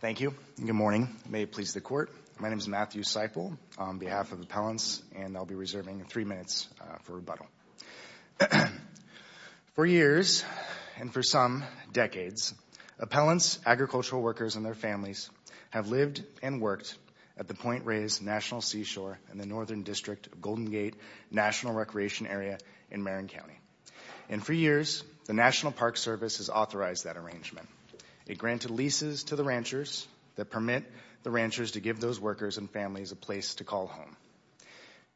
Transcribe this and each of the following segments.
Thank you. Good morning. May it please the Court. My name is Matthew Seiple on behalf of Appellants and I'll be reserving three minutes for rebuttal. For years, and for some decades, Appellants, Agricultural Workers, and their families have lived and worked at the Point Reyes National Seashore in the Northern District of Golden Gate National Recreation Area in Marin County. And for years, the National Park Service has authorized that arrangement. It granted leases to the ranchers that permit the ranchers to give those workers and families a place to call home.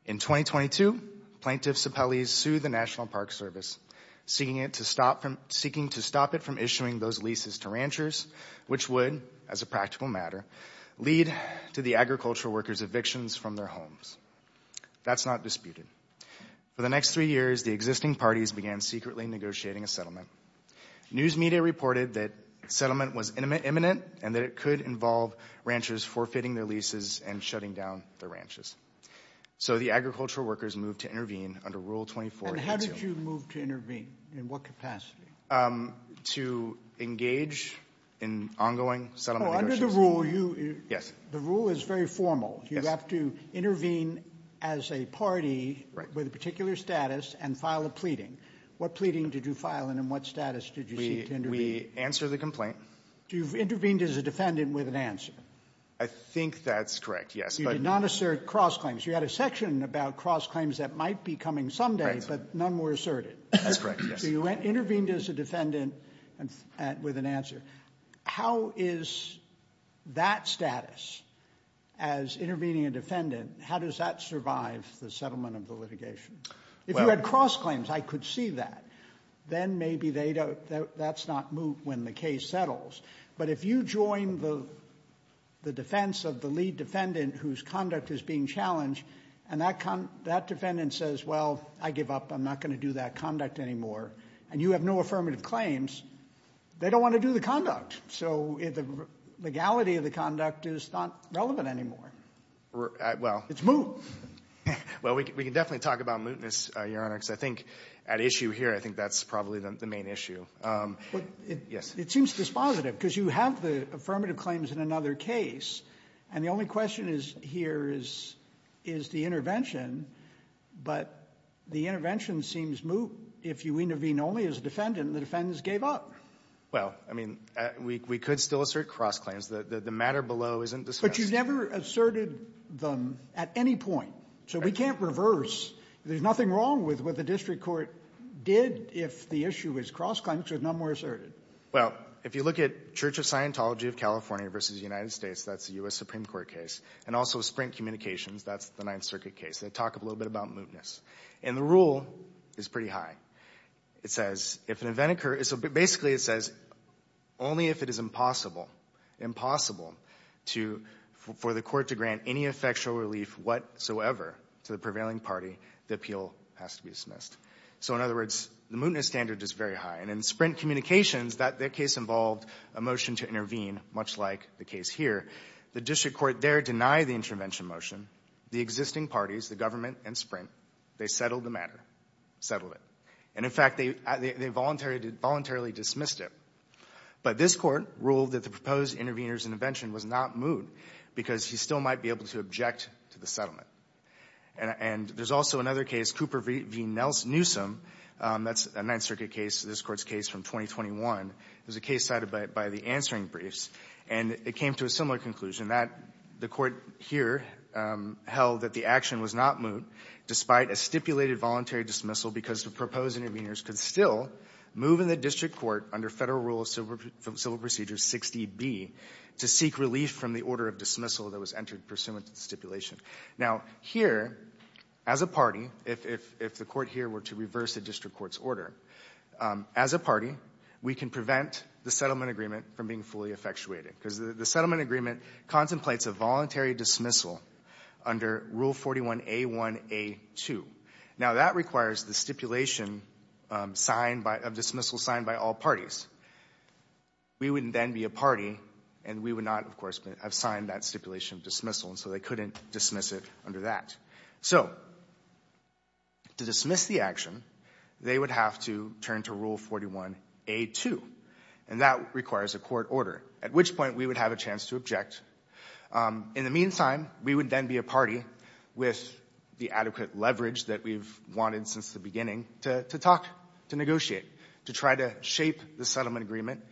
In 2022, Plaintiff Seiple sued the National Park Service, seeking to stop it from issuing those leases to ranchers, which would, as a practical matter, lead to the agricultural workers' evictions from their homes. That's not disputed. For the next three years, the existing parties began secretly negotiating a settlement. News media reported that settlement was imminent and that it could involve ranchers forfeiting their leases and shutting down their ranches. So the agricultural workers moved to intervene under Rule 24. And how did you move to intervene? In what capacity? To engage in ongoing settlement negotiations. Oh, under the rule you... Yes. The rule is very formal. You have to intervene as a party with a particular status and file a pleading. What pleading did you file and in what status did you seek to intervene? We answered the complaint. You intervened as a defendant with an answer. I think that's correct, yes. You did not assert cross-claims. You had a section about cross-claims that might be coming someday, but none were asserted. That's correct, yes. So you intervened as a defendant with an answer. How is that status, as intervening a defendant, how does that survive the settlement of the litigation? If you had cross-claims, I could see that. Then maybe that's not moot when the case settles. But if you join the defense of the lead defendant whose conduct is being challenged, and that defendant says, well, I give up, I'm not going to do that conduct anymore, and you have no affirmative claims, they don't want to do the conduct. So the legality of the conduct is not relevant anymore. It's moot. Well, we can definitely talk about mootness, Your Honor, because I think at least the issue here, I think that's probably the main issue. It seems dispositive, because you have the affirmative claims in another case, and the only question here is the intervention. But the intervention seems moot if you intervene only as a defendant and the defendants gave up. Well, I mean, we could still assert cross-claims. The matter below isn't discussed. But you never asserted them at any point. So we can't reverse. There's nothing wrong with what the district court did if the issue is cross-claims, but none were asserted. Well, if you look at Church of Scientology of California v. United States, that's a U.S. Supreme Court case. And also Sprint Communications, that's the Ninth Circuit case. They talk a little bit about mootness. And the rule is pretty high. It says, if an event occurs, basically it says, only if it is impossible, impossible, for the court to grant any effectual relief whatsoever to the prevailing party, the appeal has to be dismissed. So in other words, the mootness standard is very high. And in Sprint Communications, that case involved a motion to intervene, much like the case here. The district court there denied the intervention motion. The existing parties, the government and Sprint, they settled the matter, settled it. And in fact, they voluntarily dismissed it. But this court ruled that the proposed intervener's intervention was not moot, because he still might be able to object to the settlement. And there's also another case, Cooper v. Newsom. That's a Ninth Circuit case, this Court's case from 2021. It was a case cited by the answering briefs. And it came to a similar conclusion, that the Court here held that the action was not moot, despite a stipulated voluntary dismissal, because the proposed interveners could still move in the district court under Federal Rule of Civil Procedure 60B to seek relief from the order of dismissal that was entered pursuant to the stipulation. Now here, as a party, if the court here were to reverse the district court's order, as a party, we can prevent the settlement agreement from being fully effectuated, because the settlement agreement contemplates a voluntary dismissal under Rule 41A1A2. Now that requires the stipulation of dismissal signed by all parties. We wouldn't then be a party, and we would not, of course, have signed that stipulation of dismissal, and so they couldn't dismiss it under that. So to dismiss the action, they would have to turn to Rule 41A2. And that requires a court order, at which point we would have a chance to object. In the meantime, we would then be a party with the adequate leverage that we've wanted since the beginning to talk, to negotiate, to try to shape the settlement agreement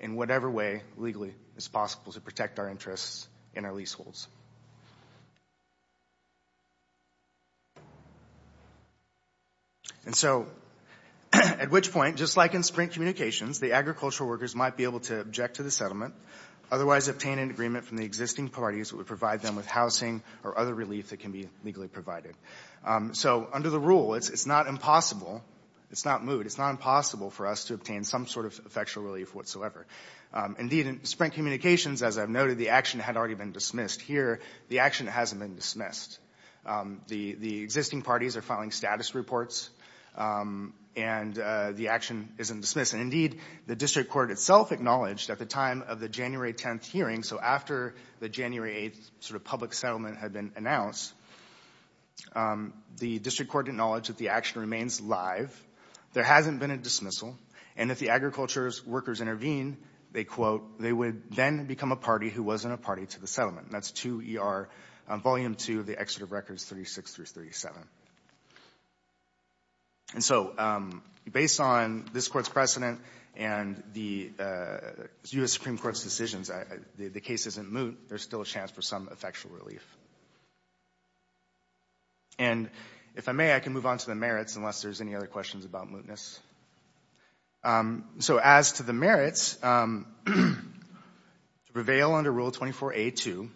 in whatever way legally is possible to protect our interests and our leaseholds. And so at which point, just like in Sprint Communications, the agricultural workers might be able to object to the settlement, otherwise obtain an agreement from the existing parties that would provide them with housing or other relief that can be legally provided. So under the rule, it's not impossible, it's not moot, it's not impossible for us to obtain some sort of effectual relief whatsoever. Indeed in Sprint Communications, as I've noted, the action had already been dismissed. Here, the action hasn't been dismissed. The existing parties are filing status reports, and the action isn't dismissed. And indeed, the District Court itself acknowledged at the time of the January 10th hearing, so after the January 8th sort of public settlement had been announced, the District Court acknowledged that the action remains live, there hasn't been a dismissal, and if the agricultural workers intervene, they quote, they would then become a party who wasn't a party to the settlement. That's 2ER Volume 2 of the Exeter Records 36-37. And so based on this Court's precedent and the U.S. Supreme Court's decisions, the case isn't moot, there's still a chance for some effectual relief. And if I may, I can move on to the merits unless there's any other questions about mootness. So as to the merits, to prevail under Rule 24A.2,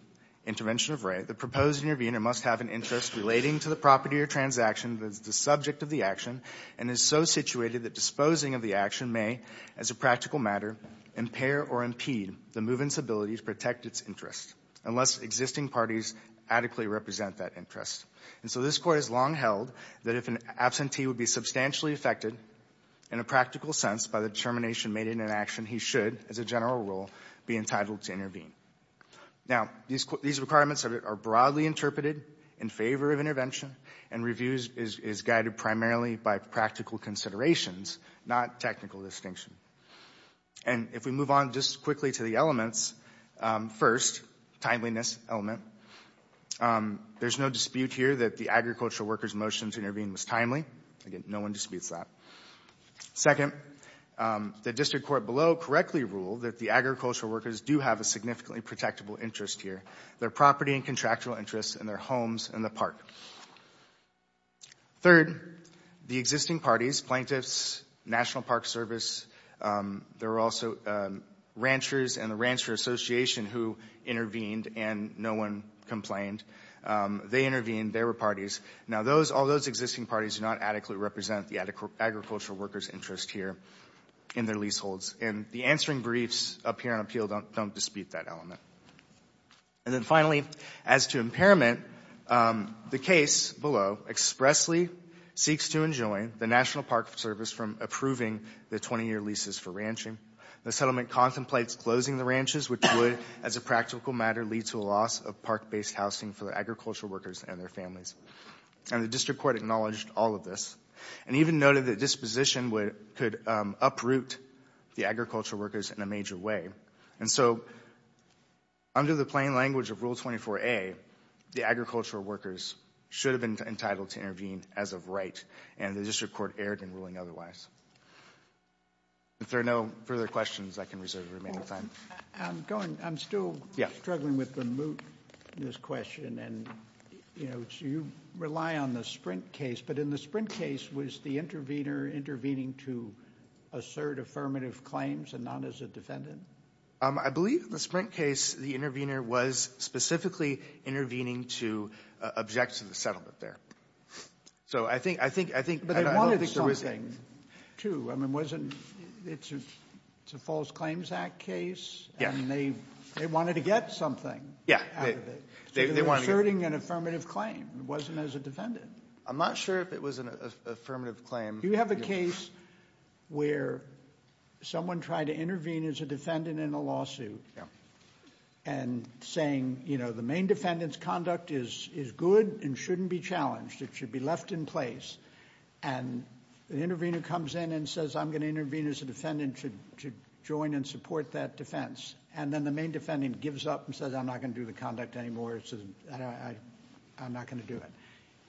Intervention of Right, the proposed intervener must have an interest relating to the property or transaction that is the subject of the action and is so situated that disposing of the action may, as a practical matter, impair or impede the movement's ability to protect its interest unless existing parties adequately represent that interest. And so this Court has long held that if an absentee would be substantially affected in a practical sense by the determination made in an action, he should, as a general rule, be entitled to intervene. Now these requirements are broadly interpreted in favor of intervention and review is guided primarily by practical considerations, not technical distinction. And if we move on just quickly to the elements, first, timeliness element, there's no dispute here that the agricultural workers' motion to intervene was timely. Again, no one disputes that. Second, the District Court below correctly ruled that the agricultural workers do have a significantly protectable interest here, their property and contractual interests and their homes and the park. Third, the existing parties, plaintiffs, National Park Service, there were also ranchers and the Rancher Association who intervened and no one complained. They intervened, they were parties. Now all those existing parties do not adequately represent the agricultural workers' interest here in their leaseholds. And the answering briefs up here on appeal don't dispute that element. And then finally, as to impairment, the case below expressly seeks to enjoin the National Park Service from approving the 20-year leases for ranching. The settlement contemplates closing the ranches, which would, as a practical matter, lead to a loss of park-based housing for the agricultural workers and their families. And the District Court acknowledged all of this and even noted that disposition could uproot the agricultural workers in a major way. And so, under the plain language of Rule 24A, the agricultural workers should have been entitled to intervene as of right, and the District Court erred in ruling otherwise. If there are no further questions, I can reserve the remaining time. I'm still struggling with the moot in this question. You rely on the Sprint case, but in the Sprint case, was the intervener intervening to assert affirmative claims and not as a defendant? I believe in the Sprint case, the intervener was specifically intervening to object to the settlement there. So I think... But they wanted something, too. I mean, wasn't... It's a False Claims Act case, and they wanted to get something out of it. So they were asserting an affirmative claim. It wasn't as a defendant. I'm not sure if it was an affirmative claim. You have a case where someone tried to intervene as a defendant in a lawsuit and saying, you know, the main defendant's conduct is good and shouldn't be challenged. It should be left in place. And the intervener comes in and says, I'm going to intervene as a defendant to join and support that defense. And then the main defendant gives up and says, I'm not going to do the conduct anymore. I'm not going to do it.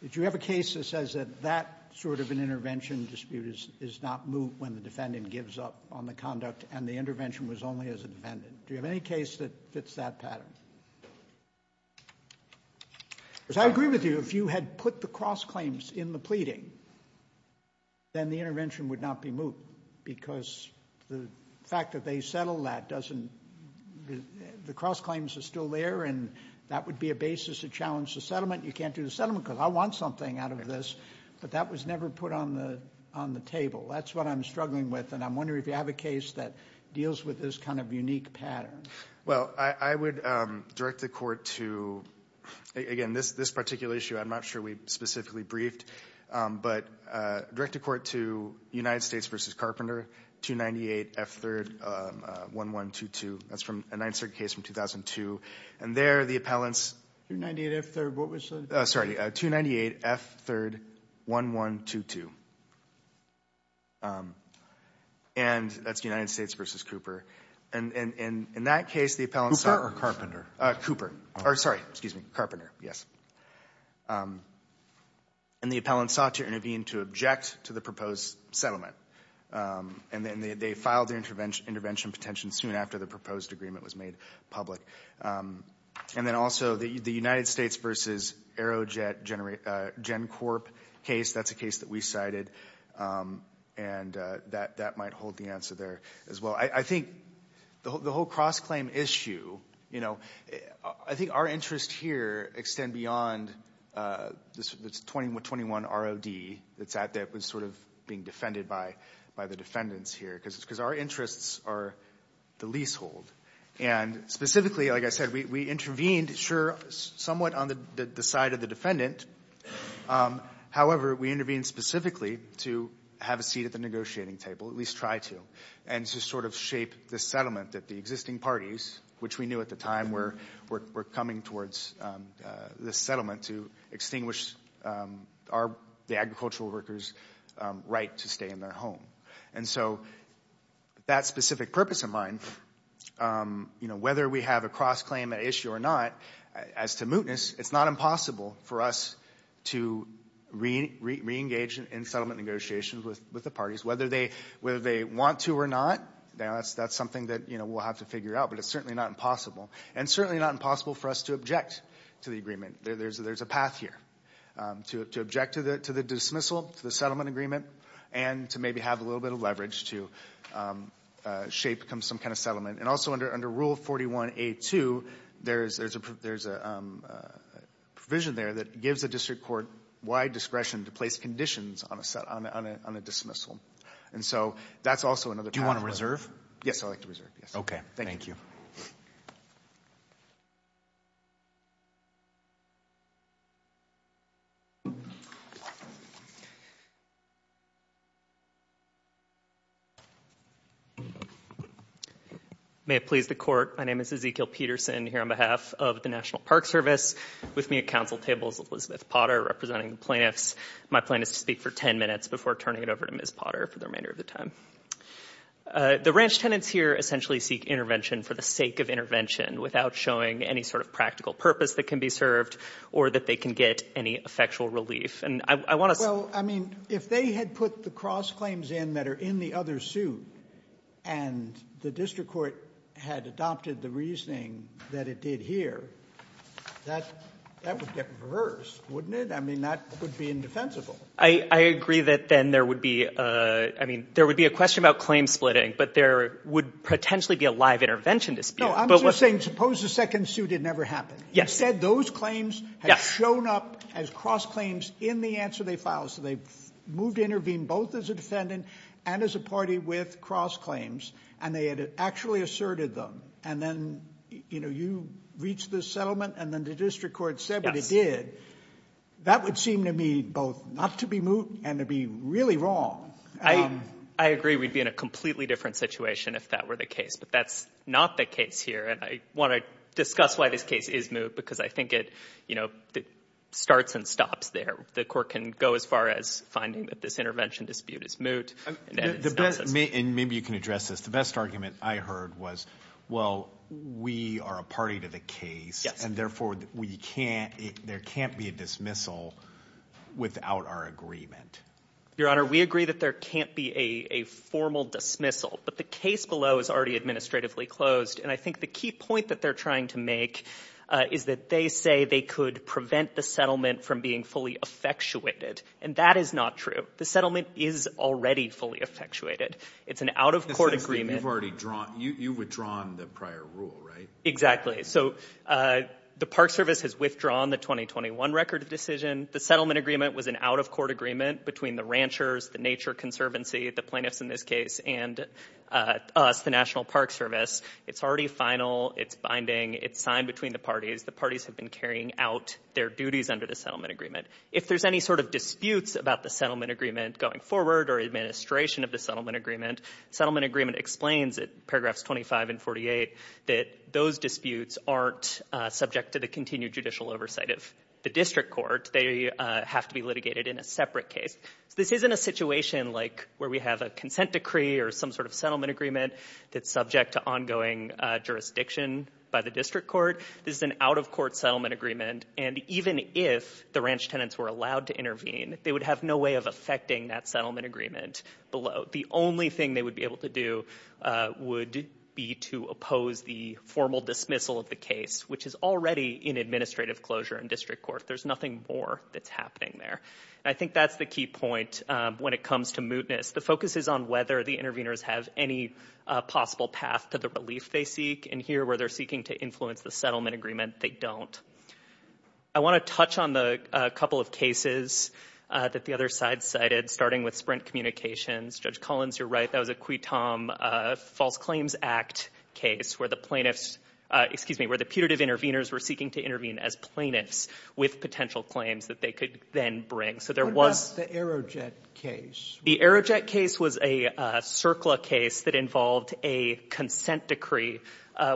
Did you have a case that says that that sort of an intervention dispute is not moot when the defendant gives up on the conduct and the intervention was only as a defendant? Do you have any case that fits that pattern? Because I agree with you, if you had put the cross claims in the pleading, then the intervention would not be moot because the fact that they settled that doesn't... The cross claims are still there and that would be a basis to challenge the settlement. You can't do the settlement because I want something out of this. But that was never put on the table. That's what I'm struggling with. And I'm wondering if you have a case that deals with this kind of unique pattern. Well, I would direct the court to, again, this particular issue, I'm not sure we specifically briefed, but direct the court to United States v. Carpenter, 298 F. 3rd, 1122. That's from a 9th Circuit case from 2002. And there, the appellants... 298 F. 3rd, what was the... Sorry, 298 F. 3rd, 1122. And that's United States v. Cooper. And in that case, the appellants... Cooper or Carpenter? Cooper. Or, sorry, excuse me, Carpenter, yes. And the appellants sought to intervene to object to the proposed settlement. And then they filed their intervention petition soon after the proposed agreement was made public. And then also, the United States v. Aerojet GenCorp case, that's a case that we cited. And that might hold the answer there as well. I think the whole cross-claim issue, I think our interests here extend beyond this 21 ROD that's out there that's sort of being defended by the defendants here. Because our interests are the leasehold. And specifically, like I said, we intervened, sure, somewhat on the side of the defendant. However, we intervened specifically to have a seat at the negotiating table, at least try to. And to sort of shape the settlement that the existing parties, which we knew at the time were coming towards this settlement to extinguish the agricultural workers' right to stay in their home. And so, that specific purpose in mind, whether we have a cross-claim issue or not, as to mootness, it's not impossible for us to re-engage in settlement negotiations with the parties. Whether they want to or not, that's something that we'll have to figure out. But it's certainly not impossible. And certainly not impossible for us to object to the agreement. There's a path here. To object to the dismissal, to the settlement agreement, and to maybe have a little bit of leverage to shape some kind of settlement. And also, under Rule 41A2, there's a provision there that gives the district court wide discretion to place conditions on a dismissal. And so, that's also another path. Do you want to reserve? Yes, I'd like to reserve. Okay. Thank you. May it please the Court, my name is Ezekiel Peterson here on behalf of the National Park Service. With me at council table is Elizabeth Potter, representing the plaintiffs. My plan is to speak for ten minutes before turning it over to Ms. Potter for the remainder of the time. The ranch tenants here essentially seek intervention for the sake of intervention, without showing any sort of practical purpose that can be served, or that they can get any effectual relief. Well, I mean, if they had put the cross claims in that are in the other suit, and the district court had adopted the reasoning that it did here, that would get reversed, wouldn't it? I mean, that would be indefensible. I agree that then there would be, I mean, there would be a question about claim splitting, but there would potentially be a live intervention dispute. No, I'm just saying, suppose the second suit didn't ever happen. Instead, those claims have shown up as cross claims in the answer they filed, so they've moved to intervene both as a defendant and as a party with cross claims, and they had actually asserted them. And then, you know, you reached the settlement, and then the district court said that it did. That would seem to me both not to be moot and to be really wrong. I agree we'd be in a completely different situation if that were the case, but that's not the case here, and I want to discuss why this case is moot, because I think it, you know, starts and stops there. The court can go as far as finding that this intervention dispute is moot, and then it stops us. And maybe you can address this. The best argument I heard was, well, we are a party to the case, and therefore we can't, there can't be a dismissal without our agreement. Your Honor, we agree that there can't be a formal dismissal, but the case below is already administratively closed, and I think the key point that they're trying to make is that they say they could prevent the settlement from being fully effectuated, and that is not true. The settlement is already fully effectuated. It's an out-of-court agreement. You've already drawn, you've withdrawn the prior rule, right? Exactly. So the Park Service has withdrawn the 2021 record of decision. The settlement agreement was an out-of-court agreement between the ranchers, the Nature Conservancy, the plaintiffs in this case, and us, the National Park Service. It's already final. It's binding. It's signed between the parties. The parties have been carrying out their duties under the settlement agreement. If there's any sort of disputes about the settlement agreement going forward or administration of the settlement agreement, the settlement agreement explains at paragraphs 25 and 48 that those disputes aren't subject to the continued judicial oversight of the district court. They have to be litigated in a separate case. This isn't a situation like where we have a consent decree or some sort of settlement agreement that's subject to ongoing jurisdiction by the district court. This is an out-of-court settlement agreement, and even if the ranch tenants were allowed to intervene, they would have no way of affecting that settlement agreement below. The only thing they would be able to do would be to oppose the formal dismissal of the case, which is already in administrative closure in district court. There's nothing more that's happening there. I think that's the key point when it comes to mootness. The focus is on whether the interveners have any possible path to the relief they seek, and here, where they're seeking to influence the settlement agreement, they don't. I want to touch on a couple of cases that the other side cited, starting with Sprint Communications. Judge Collins, you're right, that was a Quitom False Claims Act case, where the plaintiffs, excuse me, where the putative interveners were seeking to intervene as plaintiffs with potential claims that they could then bring. What about the Aerojet case? The Aerojet case was a CERCLA case that involved a consent decree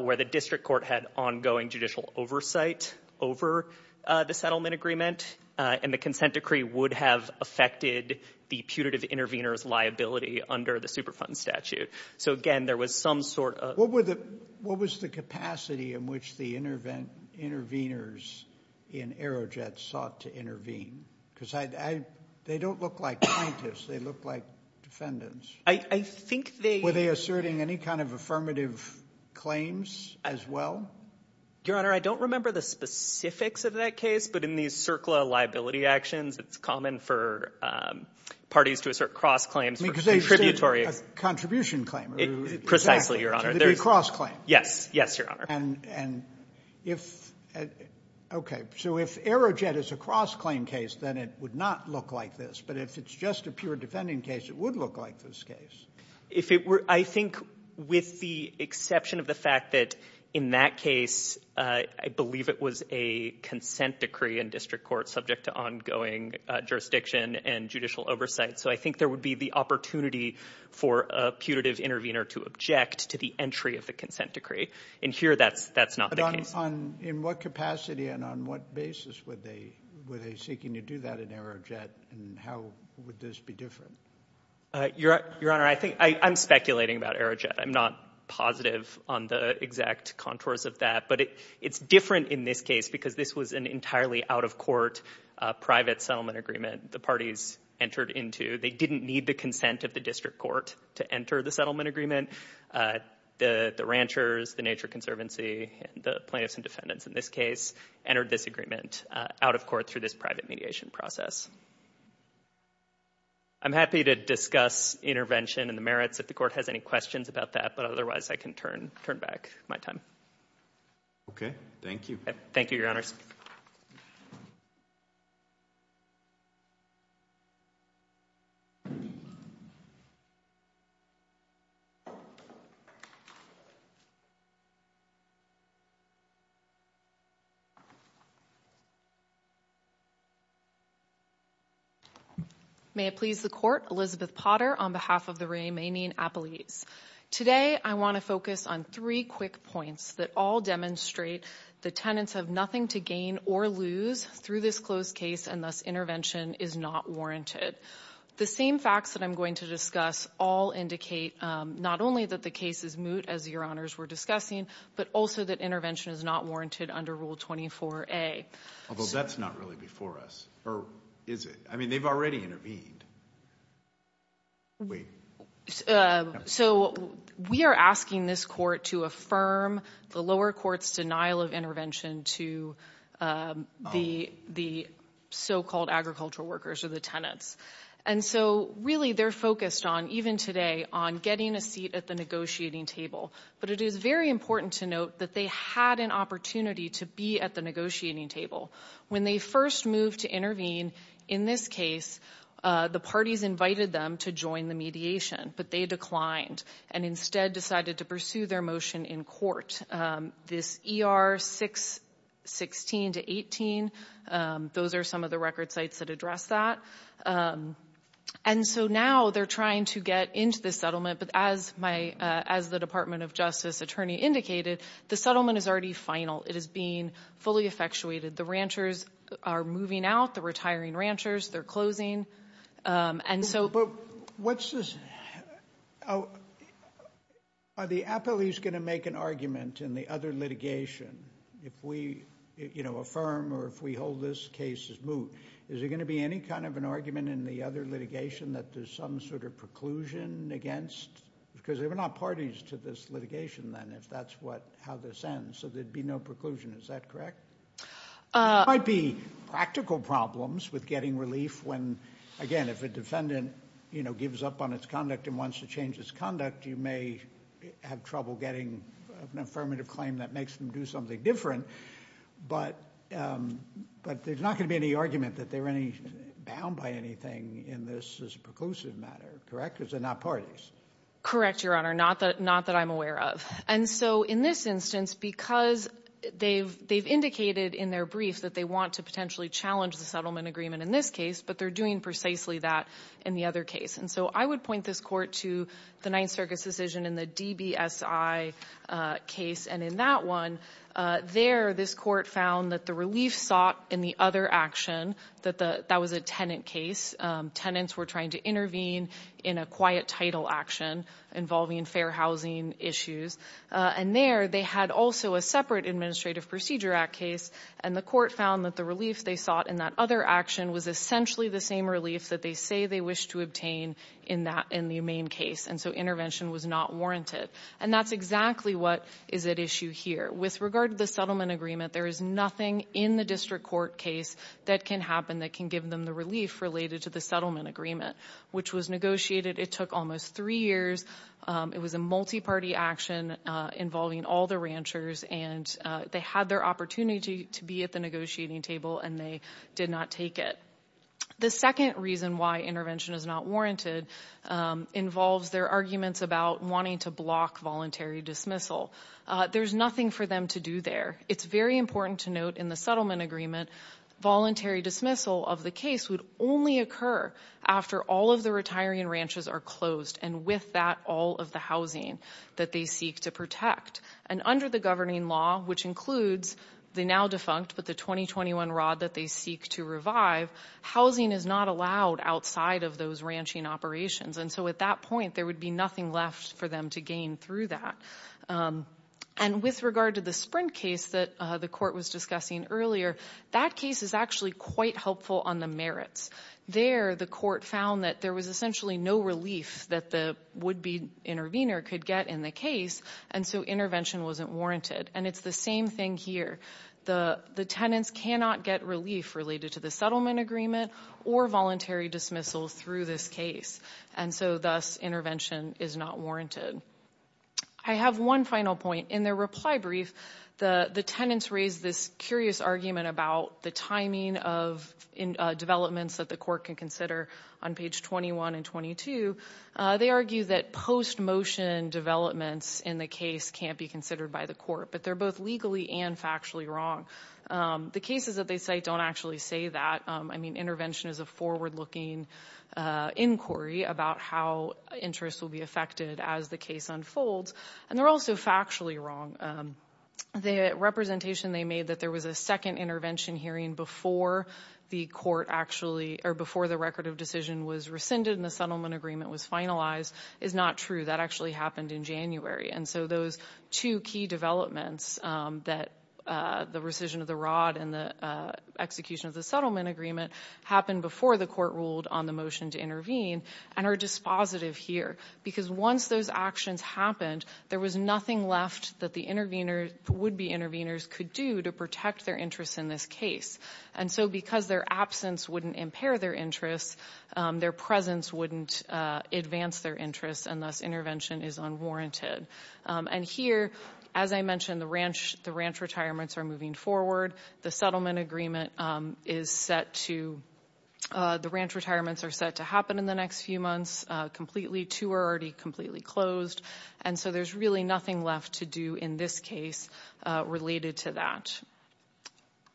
where the district court had ongoing judicial oversight over the settlement agreement, and the consent decree would have affected the putative interveners' liability under the Superfund statute. So again, there was some sort of... What was the capacity in which the interveners in Aerojet sought to intervene? Because they don't look like plaintiffs, they look like defendants. I think they... Were they asserting any kind of affirmative claims as well? Your Honor, I don't remember the specifics of that case, but in these CERCLA liability actions, it's common for parties to assert cross-claims for contributory... Because they said a contribution claim. Precisely, Your Honor. To the cross-claim. Yes, yes, Your Honor. And if... Okay, so if Aerojet is a cross-claim case, then it would not look like this, but if it's just a pure defending case, it would look like this case. I think with the exception of the fact that in that case, I believe it was a consent decree in district court subject to ongoing jurisdiction and judicial oversight. So I think there would be the opportunity for a putative intervener to object to the entry of the consent decree. In here, that's not the case. In what capacity and on what basis were they seeking to do that in Aerojet, and how would this be different? Your Honor, I'm speculating about Aerojet. I'm not positive on the exact contours of that, but it's different in this case because this was an entirely out-of-court private settlement agreement the parties entered into. They didn't need the consent of the district court to enter the settlement agreement. The ranchers, the Nature Conservancy, and the plaintiffs and defendants in this case entered this agreement out of court through this private mediation process. I'm happy to discuss intervention and the merits if the court has any questions about that, but otherwise I can turn back my time. Okay, thank you. Thank you, Your Honors. May it please the Court, Elizabeth Potter on behalf of the Romanian Appellees. Today I want to focus on three quick points that all demonstrate the tenants have nothing to gain or lose through this closed case, and thus intervention is not warranted. The same facts that I'm going to discuss all indicate not only that the case is moot, as Your Honors were discussing, but also that intervention is not warranted under Rule 24a. Although that's not really before us, or is it? I mean, they've already intervened. So, we are asking this court to affirm the lower court's denial of intervention to the so-called agricultural workers, or the tenants. And so, really, they're focused on, even today, on getting a seat at the negotiating table. But it is very important to note that they had an opportunity to be at the negotiating table. When they first moved to intervene, in this case, the parties invited them to join the mediation, but they declined and instead decided to pursue their motion in court. This ER 616-18, those are some of the record sites that address that. And so, now they're trying to get into the settlement, but as the Department of Justice attorney indicated, the settlement is already final. It is being fully effectuated. The ranchers are moving out, the retiring ranchers, they're closing. Are the appellees going to make an argument in the other litigation, if we affirm or if we hold this case as moot? Is there going to be any kind of an argument in the other litigation that there's some sort of preclusion against? Because they're not parties to this litigation then, if that's how this ends, so there'd be no preclusion. Is that correct? There might be practical problems with getting relief when, again, if a defendant gives up on its conduct and wants to change its conduct, you may have trouble getting an affirmative claim that makes them do something different. But there's not going to be any argument that they're bound by anything in this as a preclusive matter, correct? Because they're not parties. Correct, Your Honor. Not that I'm aware of. And so, in this instance, because they've indicated in their brief that they want to potentially challenge the settlement agreement in this case, but they're doing precisely that in the other case. And so, I would point this court to the Ninth Circuit's decision in the DBSI case. And in that one, there, this court found that the relief sought in the other action, that that was a tenant case. Tenants were trying to intervene in a quiet title action involving fair housing issues. And there, they had also a separate Administrative Procedure Act case. And the court found that the relief they sought in that other action was essentially the same relief that they say they wish to obtain in the main case. And so, intervention was not warranted. And that's exactly what is at issue here. With regard to the settlement agreement, there is nothing in the district court case that can happen that can give them the relief related to the settlement agreement, which was negotiated. It took almost three years. It was a multi-party action involving all the ranchers. And they had their opportunity to be at the negotiating table, and they did not take it. The second reason why intervention is not warranted involves their arguments about wanting to block voluntary dismissal. There's nothing for them to do there. It's very important to note in the settlement agreement, voluntary dismissal of a case would only occur after all of the retiring ranches are closed, and with that, all of the housing that they seek to protect. And under the governing law, which includes the now defunct, but the 2021 ROD that they seek to revive, housing is not allowed outside of those ranching operations. And so, at that point, there would be nothing left for them to gain through that. And with regard to the Sprint case that the court was discussing earlier, that case is actually quite helpful on the merits. There, the court found that there was essentially no relief that the would-be intervener could get in the case, and so intervention wasn't warranted. And it's the same thing here. The tenants cannot get relief related to the settlement agreement or voluntary dismissal through this case. And so, thus, intervention is not warranted. I have one final point. In their reply brief, the tenants raised this curious argument about the timing of developments that the court can consider on page 21 and 22. They argue that post-motion developments in the case can't be considered by the court, but they're both legally and factually wrong. The cases that they cite don't actually say that. I mean, intervention is forward-looking inquiry about how interests will be affected as the case unfolds. And they're also factually wrong. The representation they made that there was a second intervention hearing before the court actually, or before the record of decision was rescinded and the settlement agreement was finalized is not true. That actually happened in January. And so, those two key developments that the rescission of the rod and the execution of the settlement agreement happened before the court ruled on the motion to intervene and are dispositive here. Because once those actions happened, there was nothing left that the intervener, would-be interveners could do to protect their interests in this case. And so, because their absence wouldn't impair their interests, their presence wouldn't advance their interests, and thus intervention is unwarranted. And here, as I mentioned, the ranch retirements are moving forward. The settlement agreement is set to, the ranch retirements are set to happen in the next few months completely. Two are already completely closed. And so, there's really nothing left to do in this case related to that.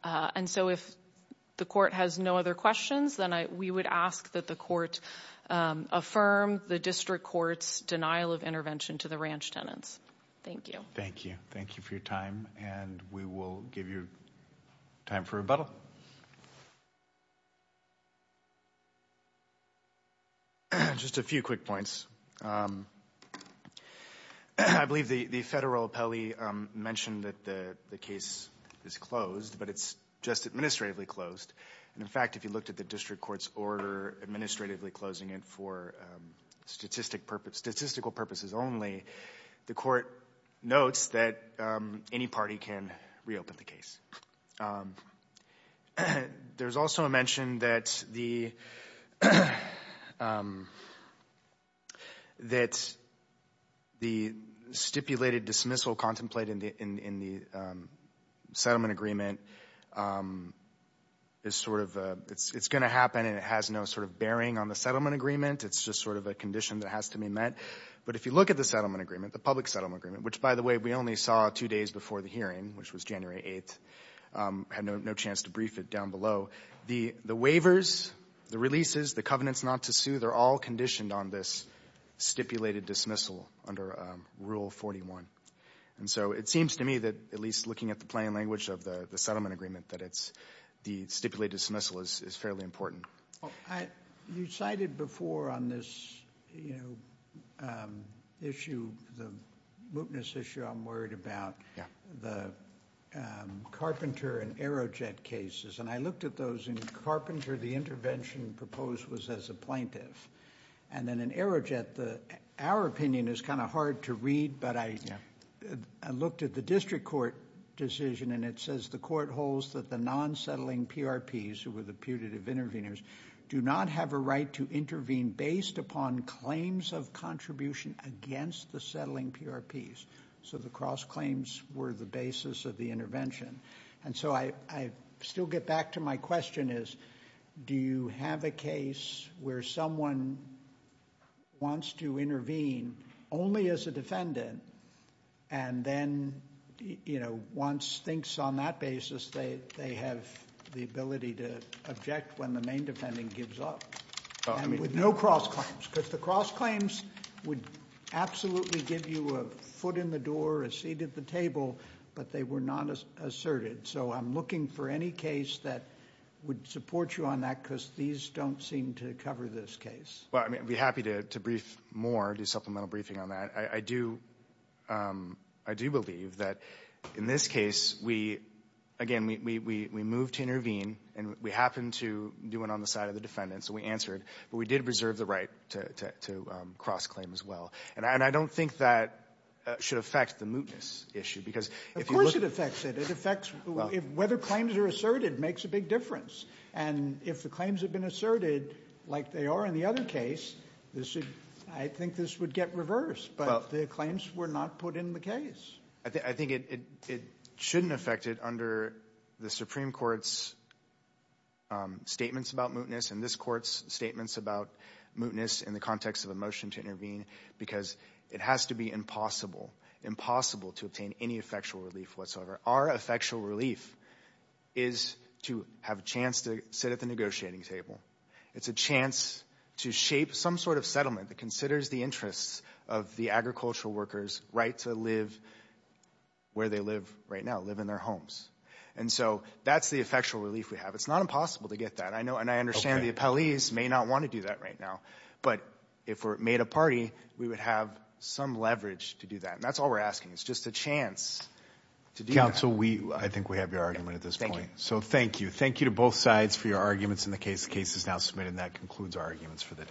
And so, if the court has no other questions, then we would ask that the court affirm the district court's denial of intervention to the ranch tenants. Thank you. Thank you. Thank you for your time, and we will give you time for rebuttal. Just a few quick points. I believe the federal appellee mentioned that the case is closed, but it's just administratively closed. And in fact, if you looked at the district court's order administratively closing it for statistical purposes only, the court notes that any can reopen the case. There's also a mention that the stipulated dismissal contemplated in the settlement agreement is sort of, it's going to happen and it has no sort of bearing on the settlement agreement. It's just sort of a condition that has to be met. But if you look at the settlement agreement, the public settlement agreement, which by the way, we only saw two days before the hearing, which was January 8th, had no chance to brief it down below. The waivers, the releases, the covenants not to sue, they're all conditioned on this stipulated dismissal under Rule 41. And so, it seems to me that at least looking at the plain language of the settlement agreement, that it's the stipulated dismissal is fairly important. You cited before on this issue, the mootness issue, I'm worried about the Carpenter and Aerojet cases. And I looked at those in Carpenter, the intervention proposed was as a plaintiff. And then in Aerojet, our opinion is kind of hard to read, but I looked at the district court decision and it says the court holds that the non-settling PRPs, who were the putative interveners, do not have a right to intervene based upon claims of contribution against the settling PRPs. So, the cross claims were the basis of the intervention. And so, I still get back to my question is, do you have a case where someone wants to intervene only as a defendant and then, you know, once thinks on that basis, they have the ability to object when the main defendant gives up? And with no cross claims, because the cross claims would absolutely give you a foot in the door, a seat at the table, but they were not asserted. So, I'm looking for any case that would support you on that, because these don't seem to cover this case. Well, I mean, I'd be happy to brief more, do supplemental briefing on that. I do believe that in this case, again, we moved to intervene and we happened to do it on the side of the defendant, so we answered, but we did reserve the right to cross claim as well. And I don't think that should affect the mootness issue, because if you look... Of course it affects it. It affects whether claims are asserted makes a big difference. And if the claims have been asserted like they are in the other case, I think this would get reversed, but the claims were not put in the case. I think it shouldn't affect it under the Supreme Court's statements about mootness and this court's statements about mootness in the context of a motion to intervene, because it has to be impossible, impossible to obtain any effectual relief whatsoever. Our effectual relief is to have a negotiating table. It's a chance to shape some sort of settlement that considers the interests of the agricultural workers right to live where they live right now, live in their homes. And so that's the effectual relief we have. It's not impossible to get that. I know, and I understand the appellees may not want to do that right now, but if we're made a party, we would have some leverage to do that. And that's all we're asking. It's just a chance to do that. Counsel, I think we have your argument at this point. So thank you. Thank you to both sides for your arguments in the case. The case is now submitted, and that concludes our arguments for the day.